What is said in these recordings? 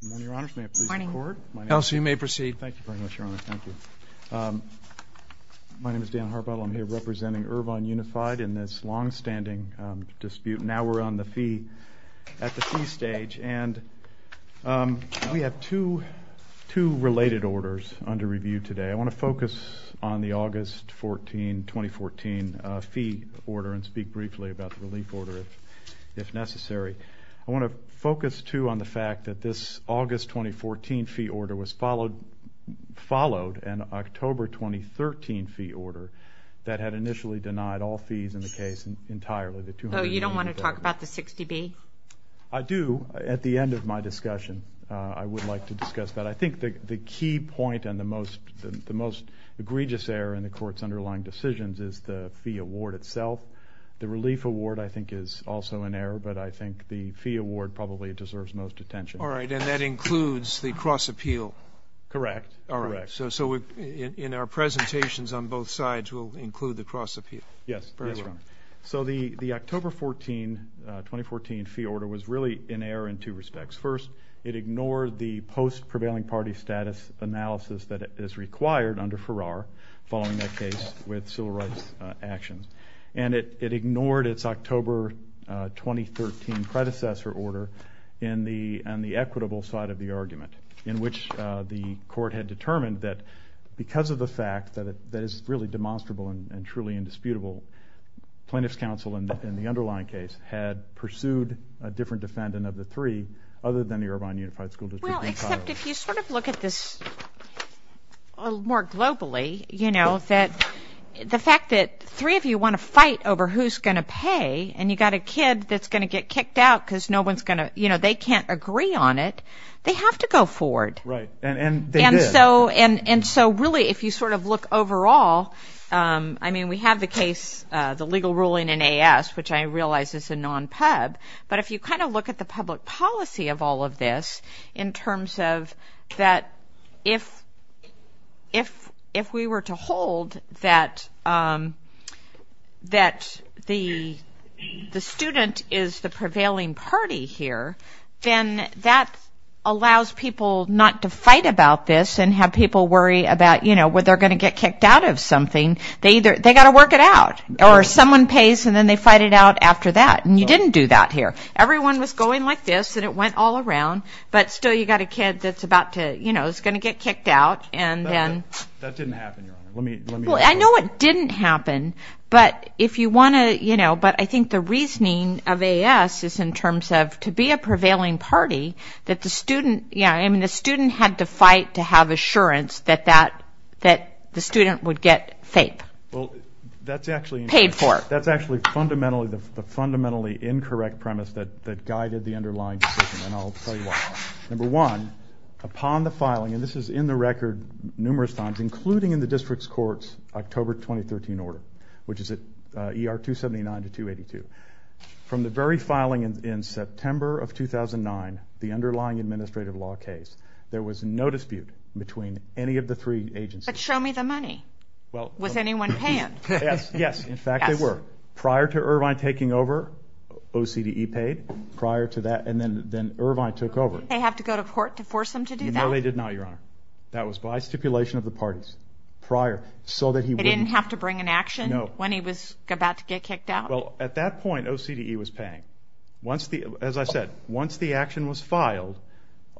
Good morning, Your Honors. May I please record? Good morning. Elsie, you may proceed. Thank you very much, Your Honor. Thank you. My name is Dan Harbottle. I'm here representing Irvine Unified in this longstanding dispute. Now we're on the fee at the fee stage. And we have two related orders under review today. I want to focus on the August 14, 2014 fee order and speak briefly about the relief order if necessary. I want to focus, too, on the fact that this August, 2014 fee order was followed in October, 2013 fee order that had initially denied all fees in the case entirely. Oh, you don't want to talk about the 60B? I do. At the end of my discussion, I would like to discuss that. I think the key point and the most egregious error in the Court's underlying decisions is the fee award itself. The relief award, I think, is also an error, but I think the fee award probably deserves most attention. All right, and that includes the cross-appeal. Correct. So in our presentations on both sides, we'll include the cross-appeal. Yes. Very well. So the October 14, 2014 fee order was really an error in two respects. First, it ignored the post-prevailing party status analysis that is required under Farrar following that case with civil rights actions. And it ignored its October, 2013 predecessor order and the equitable side of the argument in which the Court had determined that because of the fact that it's really demonstrable and truly indisputable, plaintiffs' counsel in the underlying case had pursued a different defendant of the three other than the Irvine Unified School District in Colorado. Well, except if you sort of look at this more globally, the fact that three of you want to fight over who's going to pay and you've got a kid that's going to get kicked out because they can't agree on it, they have to go forward. Right, and they did. And so really, if you sort of look overall, I mean, we have the case, the legal ruling in AS, which I realize is a non-Pub, but if you kind of look at the public policy of all of this in terms of that if we were to hold that the student is the prevailing party here, then that allows people not to fight about this and have people worry about, you know, whether they're going to get kicked out of something. They either, they've got to work it out or someone pays and then they fight it out after that. And you didn't do that here. Everyone was going like this and it went all around, but still you've got a kid that's about to, you know, is going to get kicked out and then... That didn't happen, Your Honor. Well, I know it didn't happen, but if you want to, you know, but I think the reasoning of AS is in terms of to be a prevailing party that the student, yeah, I mean the student had to fight to have assurance that the student would get FAPE. Well, that's actually... Paid for. That's actually fundamentally, the fundamentally incorrect premise that guided the underlying decision and I'll tell you why. Number one, upon the filing, and this is in the record numerous times, including in the district's court's October 2013 order, which is at ER 279 to 282, from the very filing in September of 2009, the underlying administrative law case, there was no dispute between any of the three agencies. But show me the money. Was anyone paying? Yes, yes, in fact they were. Prior to Irvine taking over, OCDE paid. Prior to that, and then Irvine took over. Did they have to go to court to force him to do that? No, they did not, Your Honor. That was by stipulation of the parties. Prior, so that he wouldn't... He didn't have to bring an action when he was about to get kicked out? Well, at that point, OCDE was paying. Once the, as I said, once the action was filed,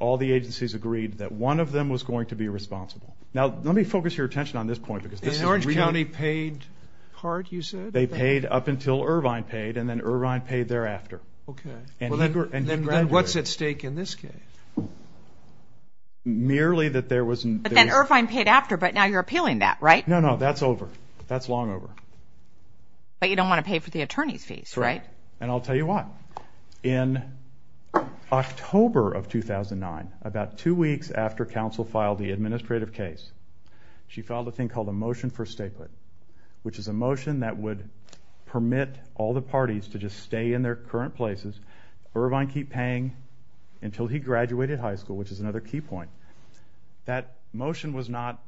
all the agencies agreed that one of them was going to be responsible. Now, let me focus your attention on this point because this is really... And Orange County paid hard, you said? They paid up until Irvine paid, and then Irvine paid thereafter. Okay. And he graduated. Then what's at stake in this case? Merely that there wasn't... But then Irvine paid after, but now you're appealing that, right? No, no, that's over. That's long over. But you don't want to pay for the attorney's fees, right? Correct. And I'll tell you what. In October of 2009, about two weeks after counsel filed the administrative case, she filed a thing called a motion for statehood, which is a motion that would permit all the parties to just stay in their current places, Irvine keep paying until he graduated high school, which is another key point. That motion was not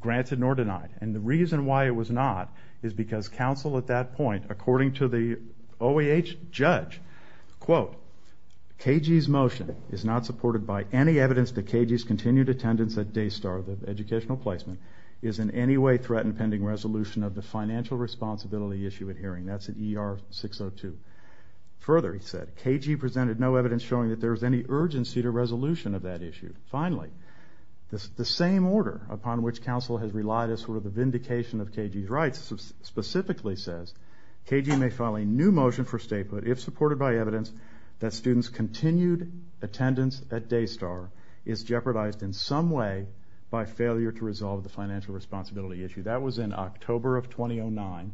granted nor denied, and the reason why it was not is because counsel at that point, according to the OAH judge, quote, KG's motion is not supported by any evidence that KG's continued attendance at Daystar, the educational placement, is in any way threatened pending resolution of the financial responsibility issue at hearing. That's in ER 602. Further, he said, KG presented no evidence showing that there was any urgency to resolution of that issue. Finally, the same order upon which counsel has relied as sort of the vindication of KG's rights specifically says KG may file a new motion for statehood if supported by evidence that students' continued attendance at Daystar is jeopardized in some way by failure to resolve the financial responsibility issue. That was in October of 2009.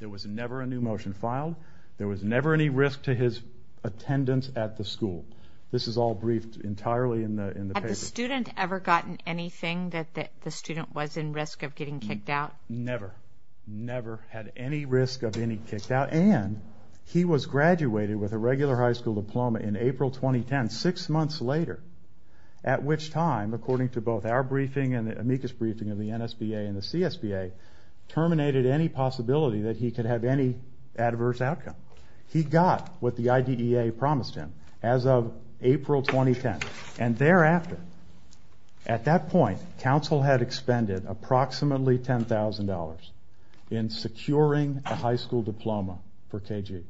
There was never a new motion filed. There was never any risk to his attendance at the school. This is all briefed entirely in the paper. Had the student ever gotten anything that the student was in risk of getting kicked out? Never. Never had any risk of getting kicked out, and he was graduated with a regular high school diploma in April 2010, six months later, at which time, according to both our briefing and the amicus briefing of the NSBA and the CSBA, terminated any possibility that he could have any adverse outcome. He got what the IDEA promised him as of April 2010, and thereafter, at that point, counsel had expended approximately $10,000 in securing a high school diploma for KG,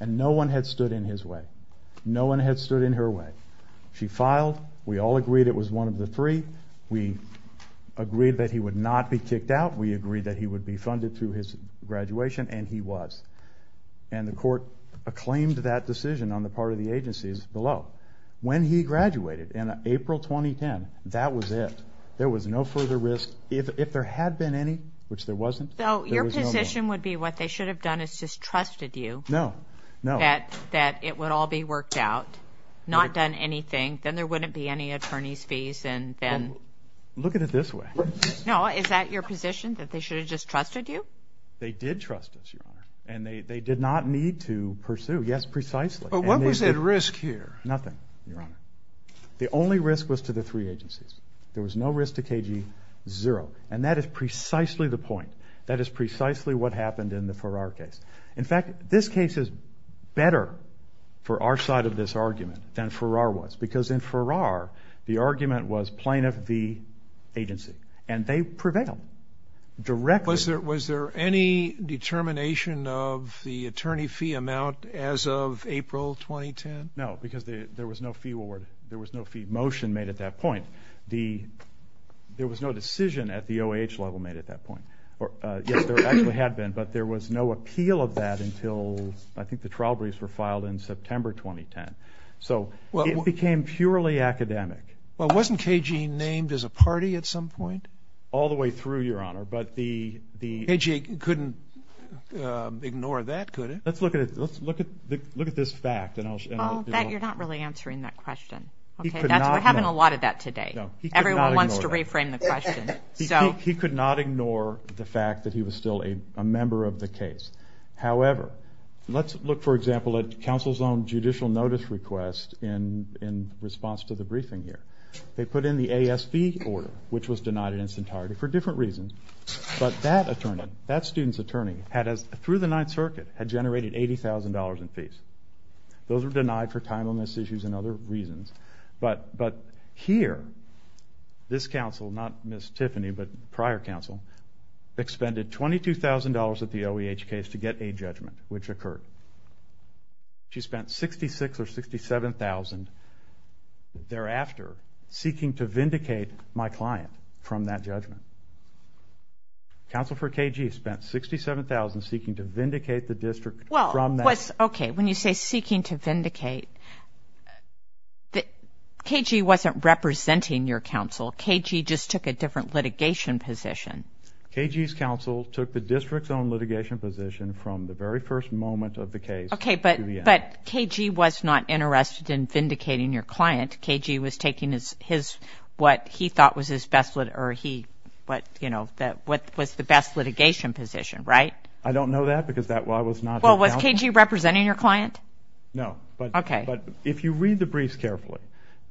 and no one had stood in his way. No one had stood in her way. She filed. We all agreed it was one of the three. We agreed that he would not be kicked out. We agreed that he would be funded through his graduation, and he was. And the court acclaimed that decision on the part of the agencies below. When he graduated in April 2010, that was it. There was no further risk. If there had been any, which there wasn't, there was no more. So your position would be what they should have done is just trusted you. No, no. That it would all be worked out, not done anything, then there wouldn't be any attorney's fees, and then... Look at it this way. No, is that your position, that they should have just trusted you? They did trust us, Your Honor. And they did not need to pursue. Yes, precisely. But what was at risk here? Nothing, Your Honor. The only risk was to the three agencies. There was no risk to KG, zero. And that is precisely the point. That is precisely what happened in the Farrar case. In fact, this case is better for our side of this argument than Farrar was, because in Farrar, the argument was plaintiff v. agency. And they prevailed directly. Was there any determination of the attorney fee amount as of April 2010? No, because there was no fee award. There was no fee motion made at that point. There was no decision at the OAH level made at that point. Yes, there actually had been, but there was no appeal of that until I think the trial briefs were filed in September 2010. So it became purely academic. Well, wasn't KG named as a party at some point? All the way through, Your Honor. KG couldn't ignore that, could it? Let's look at this fact. You're not really answering that question. We're having a lot of that today. Everyone wants to reframe the question. He could not ignore the fact that he was still a member of the case. However, let's look, for example, at counsel's own judicial notice request in response to the briefing here. They put in the ASB order, which was denied in its entirety for different reasons. But that student's attorney, through the Ninth Circuit, had generated $80,000 in fees. Those were denied for timeliness issues and other reasons. But here, this counsel, not Ms. Tiffany, but prior counsel, expended $22,000 at the OAH case to get a judgment, which occurred. She spent $66,000 or $67,000 thereafter seeking to vindicate my client from that judgment. Counsel for KG spent $67,000 seeking to vindicate the district from that. Okay, when you say seeking to vindicate, KG wasn't representing your counsel. KG just took a different litigation position. KG's counsel took the district's own litigation position from the very first moment of the case to the end. But KG was not interested in vindicating your client. KG was taking his, what he thought was his best litigation position, right? I don't know that because that was not his counsel. Well, was KG representing your client? No. Okay. But if you read the briefs carefully,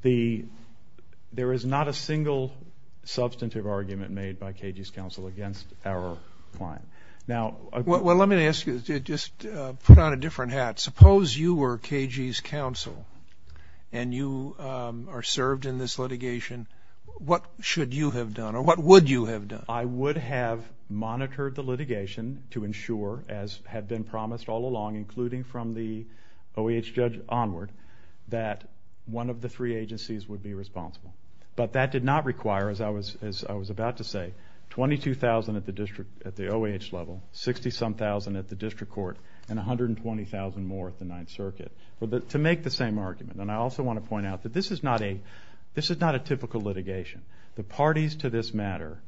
there is not a single substantive argument made by KG's counsel against our client. Well, let me ask you, just put on a different hat. Suppose you were KG's counsel and you are served in this litigation, what should you have done or what would you have done? I would have monitored the litigation to ensure, as had been promised all along, including from the OAH judge onward, that one of the three agencies would be responsible. But that did not require, as I was about to say, $22,000 at the OAH level, $60,000-something at the district court, and $120,000 more at the Ninth Circuit, to make the same argument. And I also want to point out that this is not a typical litigation. The parties to this matter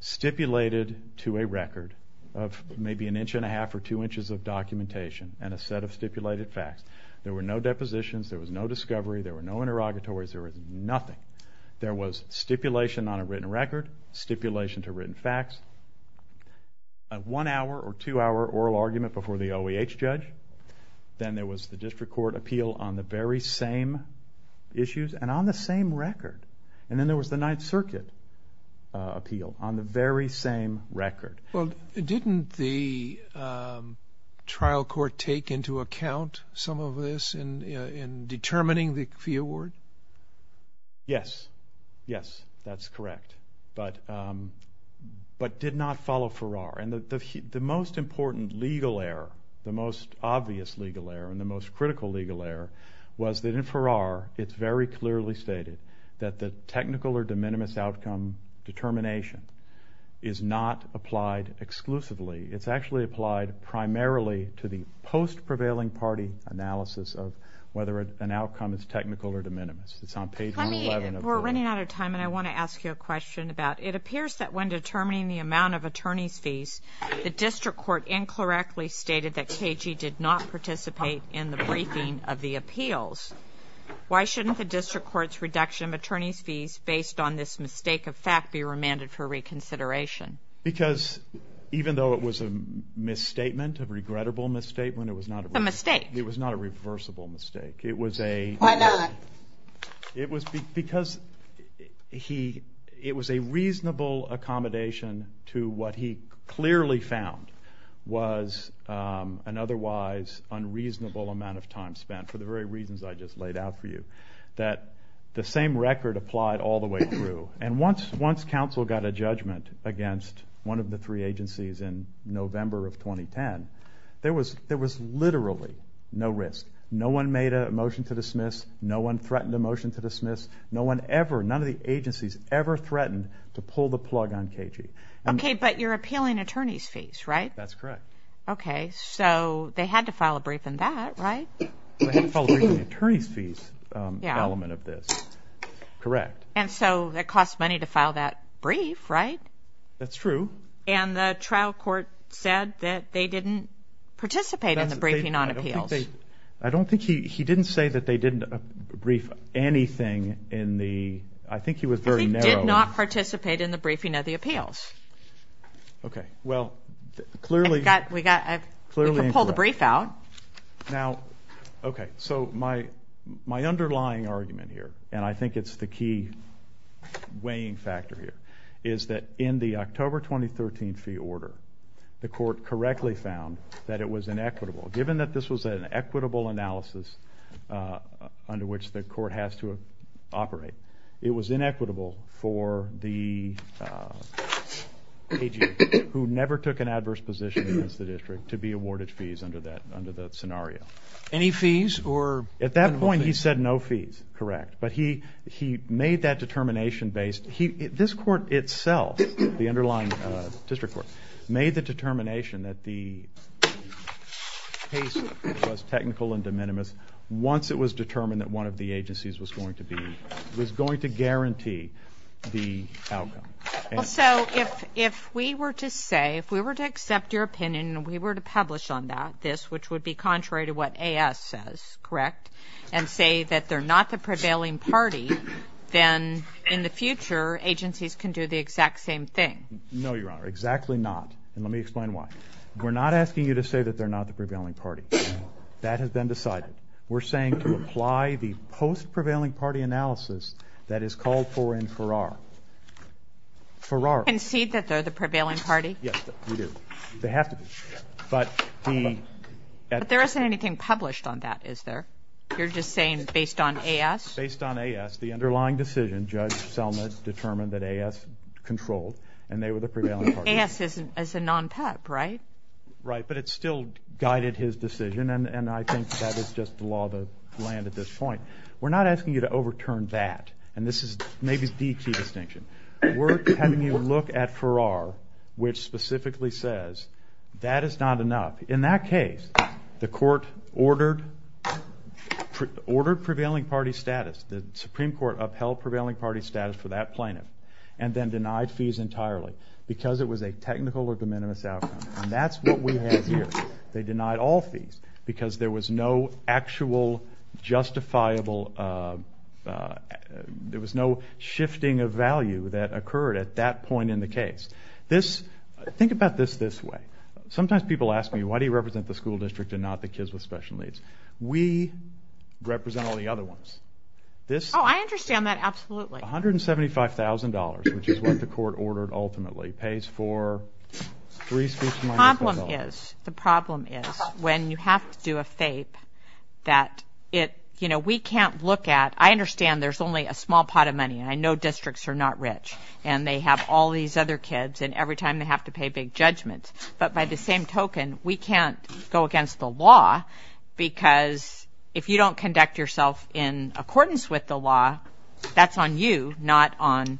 stipulated to a record of maybe an inch and a half or two inches of documentation and a set of stipulated facts. There were no depositions, there was no discovery, there were no interrogatories, there was nothing. There was stipulation on a written record, stipulation to written facts, a one-hour or two-hour oral argument before the OAH judge. Then there was the district court appeal on the very same issues and on the same record. And then there was the Ninth Circuit appeal on the very same record. Well, didn't the trial court take into account some of this in determining the fee award? Yes. Yes, that's correct. But did not follow Farrar. And the most important legal error, the most obvious legal error and the most critical legal error, was that in Farrar it's very clearly stated that the technical or de minimis outcome determination is not applied exclusively. It's actually applied primarily to the post-prevailing party analysis of whether an outcome is technical or de minimis. It's on page 11 of the... Well, we're running out of time, and I want to ask you a question about... It appears that when determining the amount of attorney's fees, the district court incorrectly stated that KG did not participate in the briefing of the appeals. Why shouldn't the district court's reduction of attorney's fees based on this mistake of fact be remanded for reconsideration? Because even though it was a misstatement, a regrettable misstatement, it was not... A mistake. It was not a reversible mistake. Why not? It was because it was a reasonable accommodation to what he clearly found was an otherwise unreasonable amount of time spent, for the very reasons I just laid out for you, that the same record applied all the way through. And once counsel got a judgment against one of the three agencies in November of 2010, there was literally no risk. No one made a motion to dismiss. No one threatened a motion to dismiss. No one ever, none of the agencies ever threatened to pull the plug on KG. Okay, but you're appealing attorney's fees, right? That's correct. Okay, so they had to file a brief in that, right? They had to file a brief in the attorney's fees element of this. Correct. And so it cost money to file that brief, right? That's true. And the trial court said that they didn't participate in the briefing on appeals. I don't think they, I don't think he, he didn't say that they didn't brief anything in the, I think he was very narrow. He did not participate in the briefing of the appeals. Okay, well, clearly. I've got, we got, we can pull the brief out. Now, okay, so my underlying argument here, and I think it's the key weighing factor here, is that in the October 2013 fee order, the court correctly found that it was inequitable. Given that this was an equitable analysis under which the court has to operate, it was inequitable for the AG who never took an adverse position against the district to be awarded fees under that scenario. Any fees or minimal fees? At that point he said no fees, correct. But he made that determination based, this court itself, the underlying district court, made the determination that the case was technical and de minimis once it was determined that one of the agencies was going to be, was going to guarantee the outcome. Well, so if we were to say, if we were to accept your opinion and we were to publish on that, this, which would be contrary to what AS says, correct, and say that they're not the prevailing party, then in the future agencies can do the exact same thing. No, Your Honor, exactly not. And let me explain why. We're not asking you to say that they're not the prevailing party. That has been decided. We're saying to apply the post-prevailing party analysis that is called for in Farrar. Farrar. Concede that they're the prevailing party? Yes, we do. They have to be. But there isn't anything published on that, is there? You're just saying based on AS? Based on AS, the underlying decision, Judge Selma determined that AS controlled, and they were the prevailing party. AS is a non-PEP, right? Right, but it still guided his decision, and I think that is just the law of the land at this point. We're not asking you to overturn that, and this is maybe the key distinction. We're having you look at Farrar, which specifically says that is not enough. In that case, the Court ordered prevailing party status. The Supreme Court upheld prevailing party status for that plaintiff, and then denied fees entirely because it was a technical or de minimis outcome, and that's what we have here. They denied all fees because there was no actual justifiable, there was no shifting of value that occurred at that point in the case. Think about this this way. Sometimes people ask me, why do you represent the school district and not the kids with special needs? We represent all the other ones. Oh, I understand that absolutely. $175,000, which is what the Court ordered ultimately, pays for three schools with special needs. The problem is when you have to do a FAPE, that we can't look at, I understand there's only a small pot of money, and I know districts are not rich, and they have all these other kids, and every time they have to pay big judgments, but by the same token, we can't go against the law because if you don't conduct yourself in accordance with the law, that's on you, not on,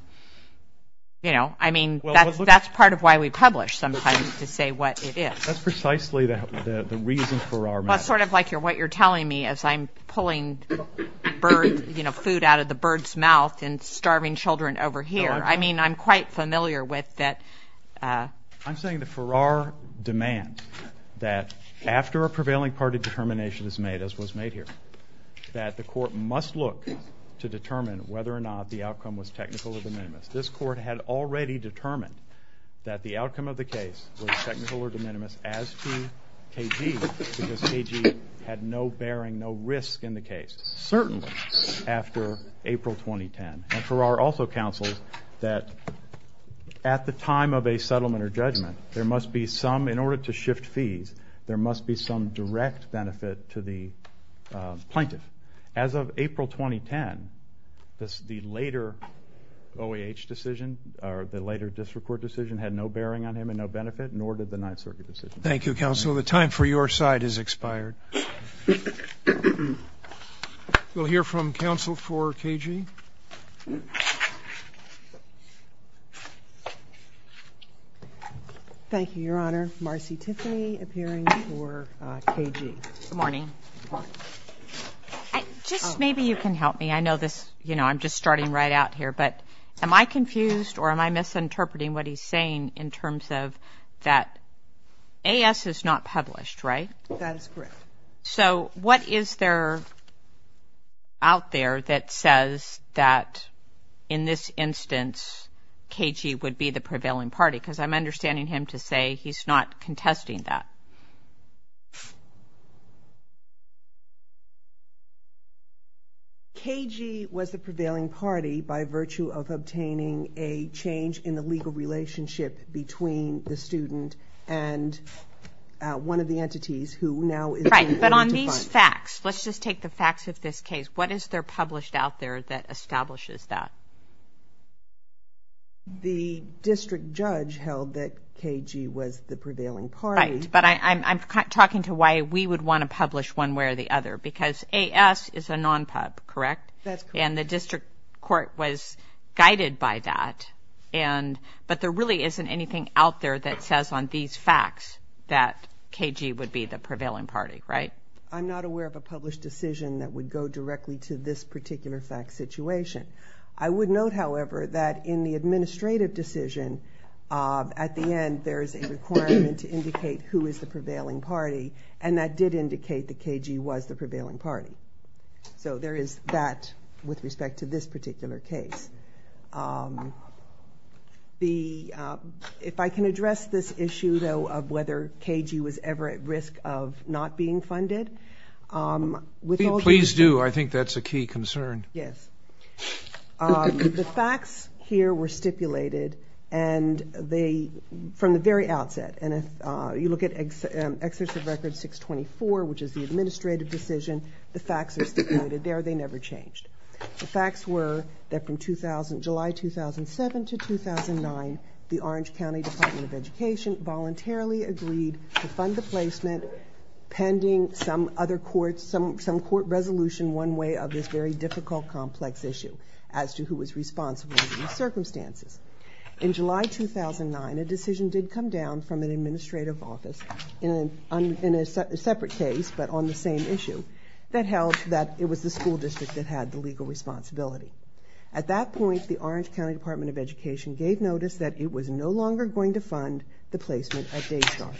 you know, I mean, that's part of why we publish sometimes, to say what it is. That's precisely the reason for our... Well, it's sort of like what you're telling me as I'm pulling food out of the bird's mouth and starving children over here. I mean, I'm quite familiar with that. I'm saying that for our demand that after a prevailing party determination is made, as was made here, that the Court must look to determine whether or not the outcome was technical or de minimis. This Court had already determined that the outcome of the case was technical or de minimis as to KG because KG had no bearing, no risk in the case, certainly after April 2010, and for our also counsels that at the time of a settlement or judgment, there must be some, in order to shift fees, there must be some direct benefit to the plaintiff. As of April 2010, the later OAH decision, or the later district court decision, had no bearing on him and no benefit, nor did the Ninth Circuit decision. Thank you, counsel. The time for your side has expired. We'll hear from counsel for KG. Thank you, Your Honor. Marcy Tiffany appearing for KG. Good morning. Good morning. Just maybe you can help me. I know this, you know, I'm just starting right out here, but am I confused or am I misinterpreting what he's saying in terms of that AS is not published, right? That is correct. So what is there out there that says that in this instance KG would be the prevailing party? Because I'm understanding him to say he's not contesting that. KG was the prevailing party by virtue of obtaining a change in the legal relationship between the student and one of the entities who now is in order to find... Right, but on these facts, let's just take the facts of this case, what is there published out there that establishes that? The district judge held that KG was the prevailing party. Right, but I'm talking to why we would want to publish one way or the other because AS is a non-PUP, correct? That's correct. And the district court was guided by that, but there really isn't anything out there that says on these facts that KG would be the prevailing party, right? I'm not aware of a published decision that would go directly to this particular fact situation. I would note, however, that in the administrative decision, at the end, there is a requirement to indicate who is the prevailing party, and that did indicate that KG was the prevailing party. So there is that with respect to this particular case. If I can address this issue, though, of whether KG was ever at risk of not being funded... Please do. I think that's a key concern. Yes. The facts here were stipulated, and they, from the very outset, and if you look at Exercise Record 624, which is the administrative decision, the facts are stipulated there. They never changed. The facts were that from July 2007 to 2009, the Orange County Department of Education voluntarily agreed to fund the placement pending some other court, some court resolution one way of this very difficult, complex issue as to who was responsible under these circumstances. In July 2009, a decision did come down from an administrative office in a separate case, but on the same issue, that held that it was the school district that had the legal responsibility. At that point, the Orange County Department of Education gave notice that it was no longer going to fund the placement at Daystar.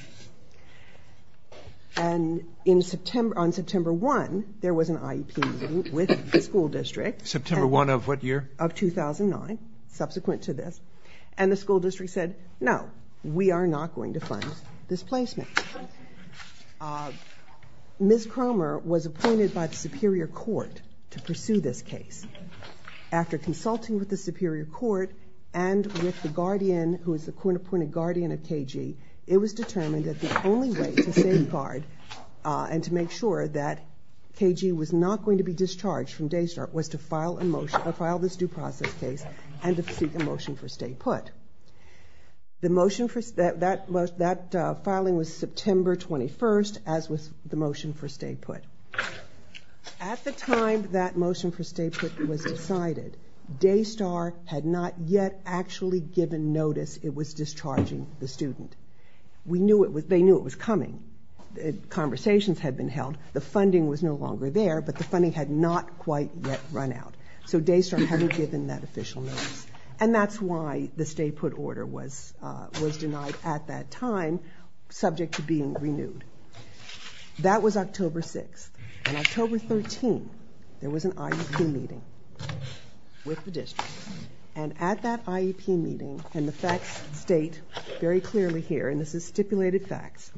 And on September 1, there was an IEP meeting with the school district. September 1 of what year? Of 2009, subsequent to this. And the school district said, no, we are not going to fund this placement. Ms. Cromer was appointed by the Superior Court to pursue this case. After consulting with the Superior Court and with the guardian, who is the appointed guardian of KG, it was determined that the only way to safeguard and to make sure that KG was not going to be discharged from Daystar was to file this due process case and to seek a motion for stay put. That filing was September 21, as was the motion for stay put. At the time that motion for stay put was decided, Daystar had not yet actually given notice it was discharging the student. They knew it was coming. Conversations had been held. The funding was no longer there, but the funding had not quite yet run out. So Daystar hadn't given that official notice. And that's why the stay put order was denied at that time, subject to being renewed. That was October 6. On October 13, there was an IEP meeting with the district. And at that IEP meeting, and the facts state very clearly here, and this is stipulated facts,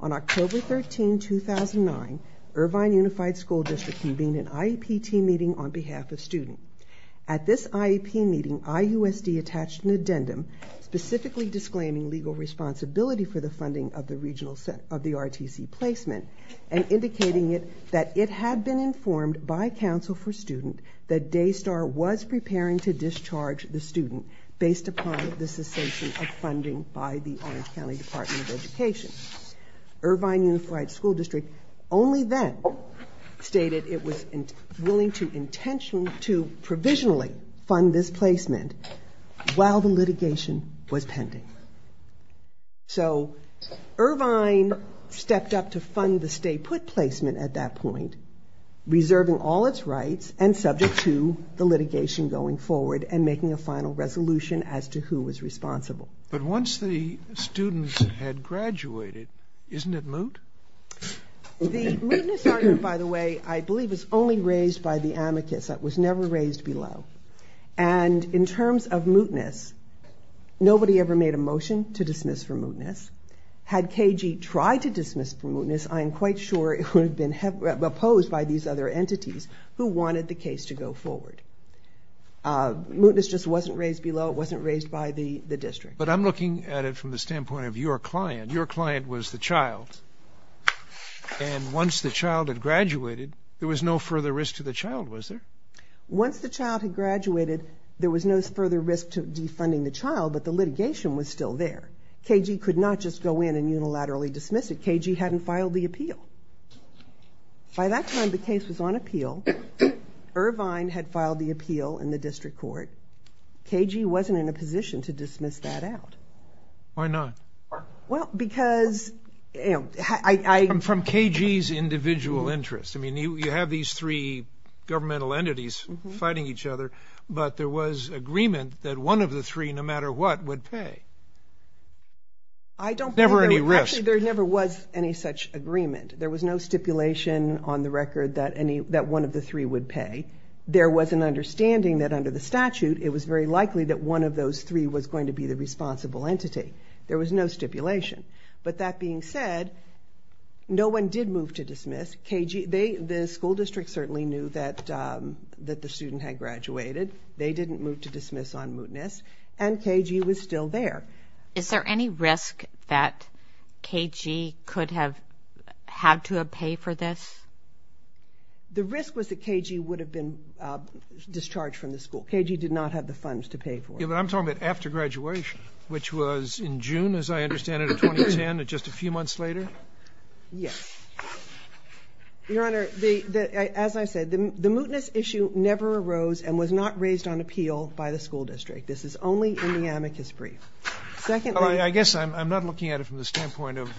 on October 13, 2009, Irvine Unified School District convened an IEP team meeting on behalf of students. At this IEP meeting, IUSD attached an addendum specifically disclaiming legal responsibility for the funding of the RTC placement and indicating that it had been informed by Council for Students that Daystar was preparing to discharge the student based upon the cessation of funding by the Orange County Department of Education. Irvine Unified School District only then stated it was willing to intentionally, to provisionally fund this placement while the litigation was pending. So Irvine stepped up to fund the stay put placement at that point, reserving all its rights and subject to the litigation going forward and making a final resolution as to who was responsible. But once the students had graduated, isn't it moot? The mootness argument, by the way, I believe is only raised by the amicus. It was never raised below. And in terms of mootness, nobody ever made a motion to dismiss for mootness. Had KG tried to dismiss for mootness, I am quite sure it would have been opposed by these other entities who wanted the case to go forward. Mootness just wasn't raised below, it wasn't raised by the district. But I'm looking at it from the standpoint of your client. Your client was the child. And once the child had graduated, there was no further risk to the child, was there? Once the child had graduated, there was no further risk to defunding the child, but the litigation was still there. KG could not just go in and unilaterally dismiss it. KG hadn't filed the appeal. By that time, the case was on appeal. Irvine had filed the appeal in the district court. KG wasn't in a position to dismiss that out. Why not? Well, because... From KG's individual interest. I mean, you have these three governmental entities fighting each other, but there was agreement that one of the three, no matter what, would pay. Never any risk. Actually, there never was any such agreement. There was no stipulation on the record that one of the three would pay. There was an understanding that under the statute, it was very likely that one of those three was going to be the responsible entity. There was no stipulation. But that being said, no one did move to dismiss. KG... The school district certainly knew that the student had graduated. They didn't move to dismiss on mootness, and KG was still there. Is there any risk that KG could have had to pay for this? The risk was that KG would have been discharged from the school. KG did not have the funds to pay for it. But I'm talking about after graduation, which was in June, as I understand it, of 2010, just a few months later? Yes. Your Honor, as I said, the mootness issue never arose and was not raised on appeal by the school district. This is only in the amicus brief. Secondly... I guess I'm not looking at it from the standpoint of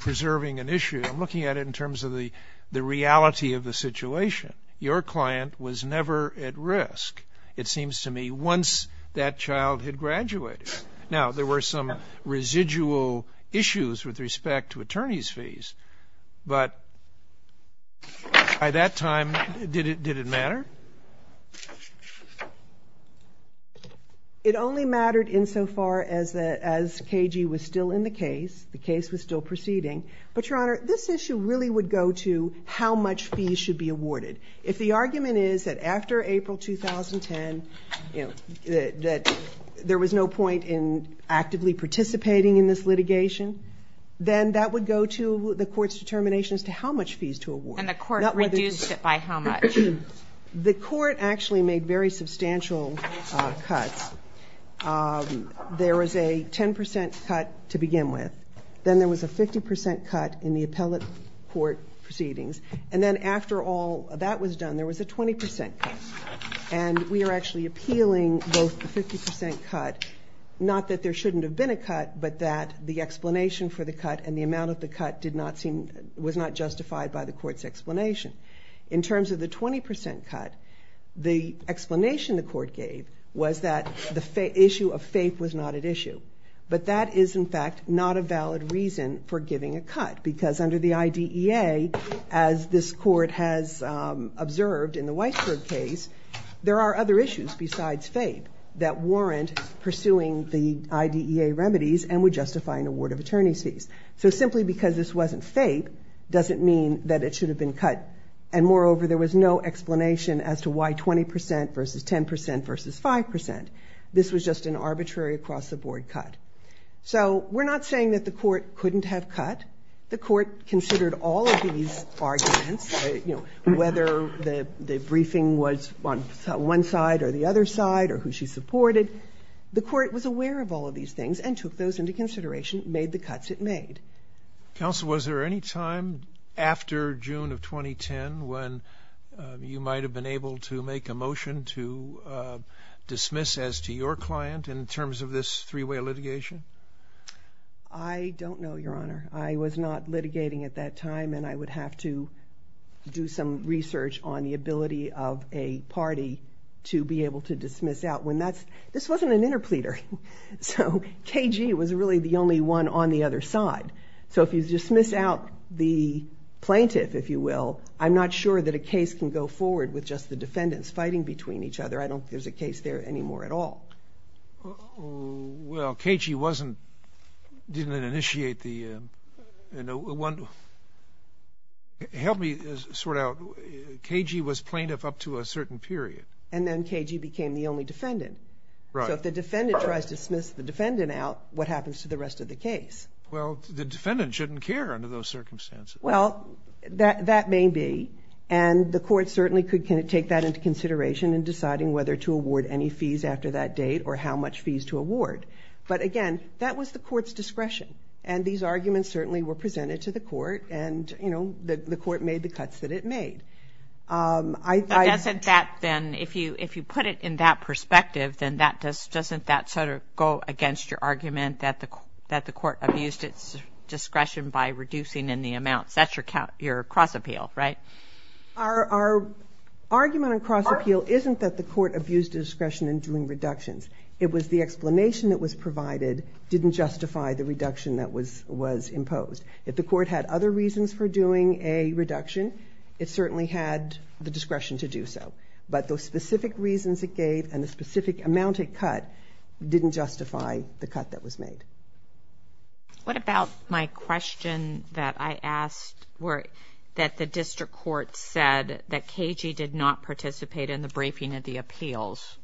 preserving an issue. I'm looking at it in terms of the reality of the situation. Your client was never at risk, it seems to me, once that child had graduated. Now, there were some residual issues with respect to attorney's fees, but by that time, did it matter? It only mattered insofar as KG was still in the case, the case was still proceeding. But, Your Honor, this issue really would go to how much fees should be awarded. If the argument is that after April 2010, there was no point in actively participating in this litigation, then that would go to the court's determination as to how much fees to award. And the court reduced it by how much? The court actually made very substantial cuts. There was a 10% cut to begin with. Then there was a 50% cut in the appellate court proceedings. And then after all that was done, there was a 20% cut. And we are actually appealing both the 50% cut, not that there shouldn't have been a cut, but that the explanation for the cut and the amount of the cut was not justified by the court's explanation. In terms of the 20% cut, the explanation the court gave was that the issue of FAPE was not at issue. But that is, in fact, not a valid reason for giving a cut because under the IDEA, as this court has observed in the Weisberg case, there are other issues besides FAPE that warrant pursuing the IDEA remedies and would justify an award of attorney's fees. So simply because this wasn't FAPE doesn't mean that it should have been cut. And moreover, there was no explanation as to why 20% versus 10% versus 5%. This was just an arbitrary across-the-board cut. So we're not saying that the court couldn't have cut. The court considered all of these arguments, whether the briefing was on one side or the other side or who she supported. The court was aware of all of these things and took those into consideration, made the cuts it made. Counsel, was there any time after June of 2010 when you might have been able to make a motion to dismiss as to your client in terms of this three-way litigation? I don't know, Your Honor. I was not litigating at that time and I would have to do some research on the ability of a party to be able to dismiss out. This wasn't an interpleader. So KG was really the only one on the other side. So if you dismiss out the plaintiff, if you will, I'm not sure that a case can go forward with just the defendants fighting between each other. I don't think there's a case there anymore at all. Well, KG didn't initiate the... Help me sort out. KG was plaintiff up to a certain period. And then KG became the only defendant. Right. So if the defendant tries to dismiss the defendant out, what happens to the rest of the case? Well, the defendant shouldn't care under those circumstances. Well, that may be, and the court certainly could take that into consideration in deciding whether to award any fees after that date or how much fees to award. But again, that was the court's discretion. And these arguments certainly were presented to the court and the court made the cuts that it made. But doesn't that then, if you put it in that perspective, then doesn't that sort of go against your argument that the court abused its discretion by reducing in the amounts? That's your cross appeal, right? Our argument on cross appeal isn't that the court abused its discretion in doing reductions. It was the explanation that was provided didn't justify the reduction that was imposed. If the court had other reasons for doing a reduction, it certainly had the discretion to do so. But those specific reasons it gave and the specific amount it cut didn't justify the cut that was made. What about my question that I asked that the district court said that KG did not participate in the briefing of the appeals?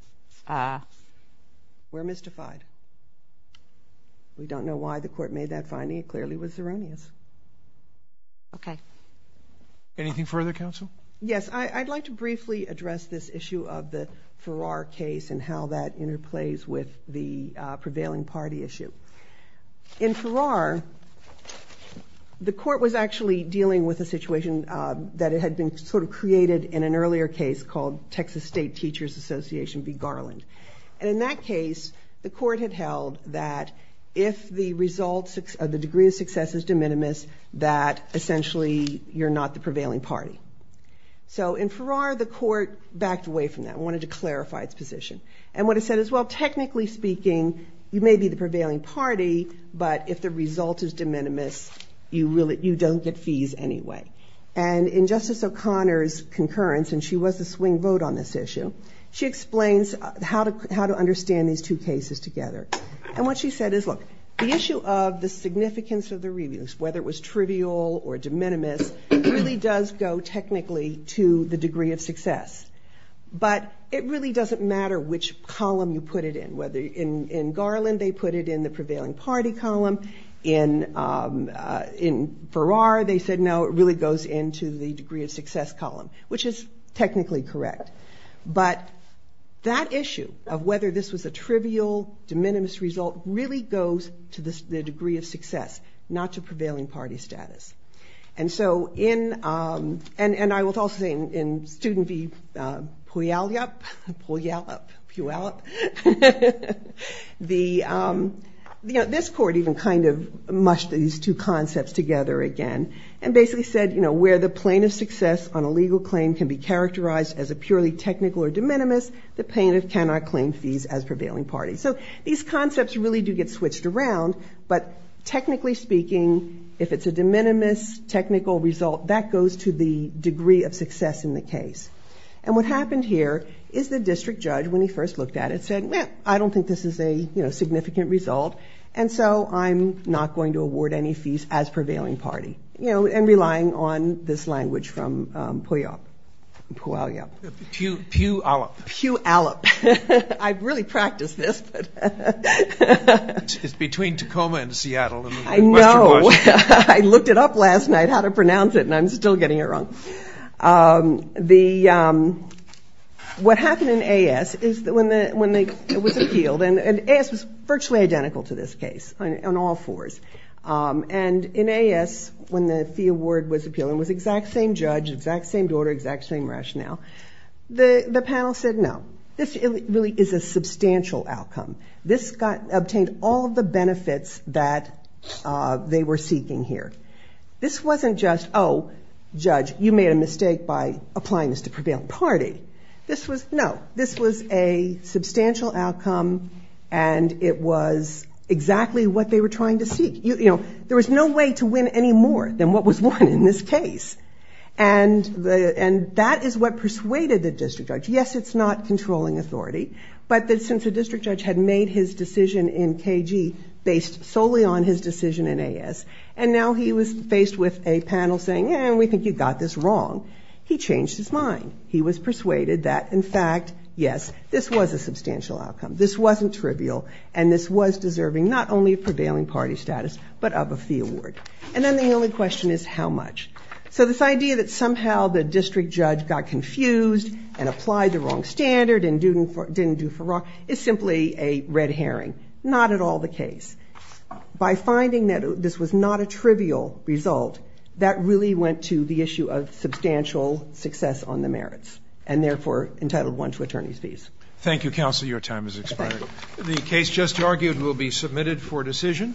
We're mystified. We don't know why the court made that finding. It clearly was erroneous. Okay. Anything further, counsel? Yes, I'd like to briefly address this issue of the Farrar case and how that interplays with the prevailing party issue. In Farrar, the court was actually dealing with a situation that had been sort of created in an earlier case called Texas State Teachers Association v. Garland. And in that case, the court had held that if the degree of success is de minimis, that essentially you're not the prevailing party. So in Farrar, the court backed away from that and wanted to clarify its position. And what it said is, well, technically speaking, you may be the prevailing party, but if the result is de minimis, you don't get fees anyway. And in Justice O'Connor's concurrence, and she was the swing vote on this issue, she explains how to understand these two cases together. And what she said is, look, the issue of the significance of the reviews, whether it was trivial or de minimis, really does go technically to the degree of success. But it really doesn't matter which column you put it in, whether in Garland they put it in the prevailing party column, in Farrar they said no, it really goes into the degree of success column, which is technically correct. But that issue of whether this was a trivial de minimis result really goes to the degree of success, not to prevailing party status. And I will also say in Student v. Puyallup, this court even kind of mushed these two concepts together again and basically said, you know, where the plane of success on a legal claim can be characterized as a purely technical or de minimis, the plaintiff cannot claim fees as prevailing party. So these concepts really do get switched around, but technically speaking, if it's a de minimis technical result, that goes to the degree of success in the case. And what happened here is the district judge, when he first looked at it, said, well, I don't think this is a significant result, and so I'm not going to award any fees as prevailing party, you know, and relying on this language from Puyallup. Puyallup. Puyallup. I've really practiced this. It's between Tacoma and Seattle. I know. I looked it up last night how to pronounce it, and I'm still getting it wrong. What happened in A.S. is when it was appealed, and A.S. was virtually identical to this case on all fours, and in A.S. when the fee award was appealed and it was the exact same judge, exact same order, exact same rationale, the panel said no. This really is a substantial outcome. This obtained all of the benefits that they were seeking here. This wasn't just, oh, judge, you made a mistake by applying this to prevailing party. No, this was a substantial outcome, and it was exactly what they were trying to seek. You know, there was no way to win any more than what was won in this case, and that is what persuaded the district judge. Yes, it's not controlling authority, but since the district judge had made his decision in K.G. based solely on his decision in A.S., and now he was faced with a panel saying, eh, we think you got this wrong, he changed his mind. He was persuaded that, in fact, yes, this was a substantial outcome. This wasn't trivial, and this was deserving not only of prevailing party status but of a fee award. And then the only question is how much. So this idea that somehow the district judge got confused and applied the wrong standard and didn't do for wrong is simply a red herring. Not at all the case. By finding that this was not a trivial result, that really went to the issue of substantial success on the merits, and therefore entitled one to attorney's fees. Thank you, counsel. Your time has expired. The case just argued will be submitted for decision.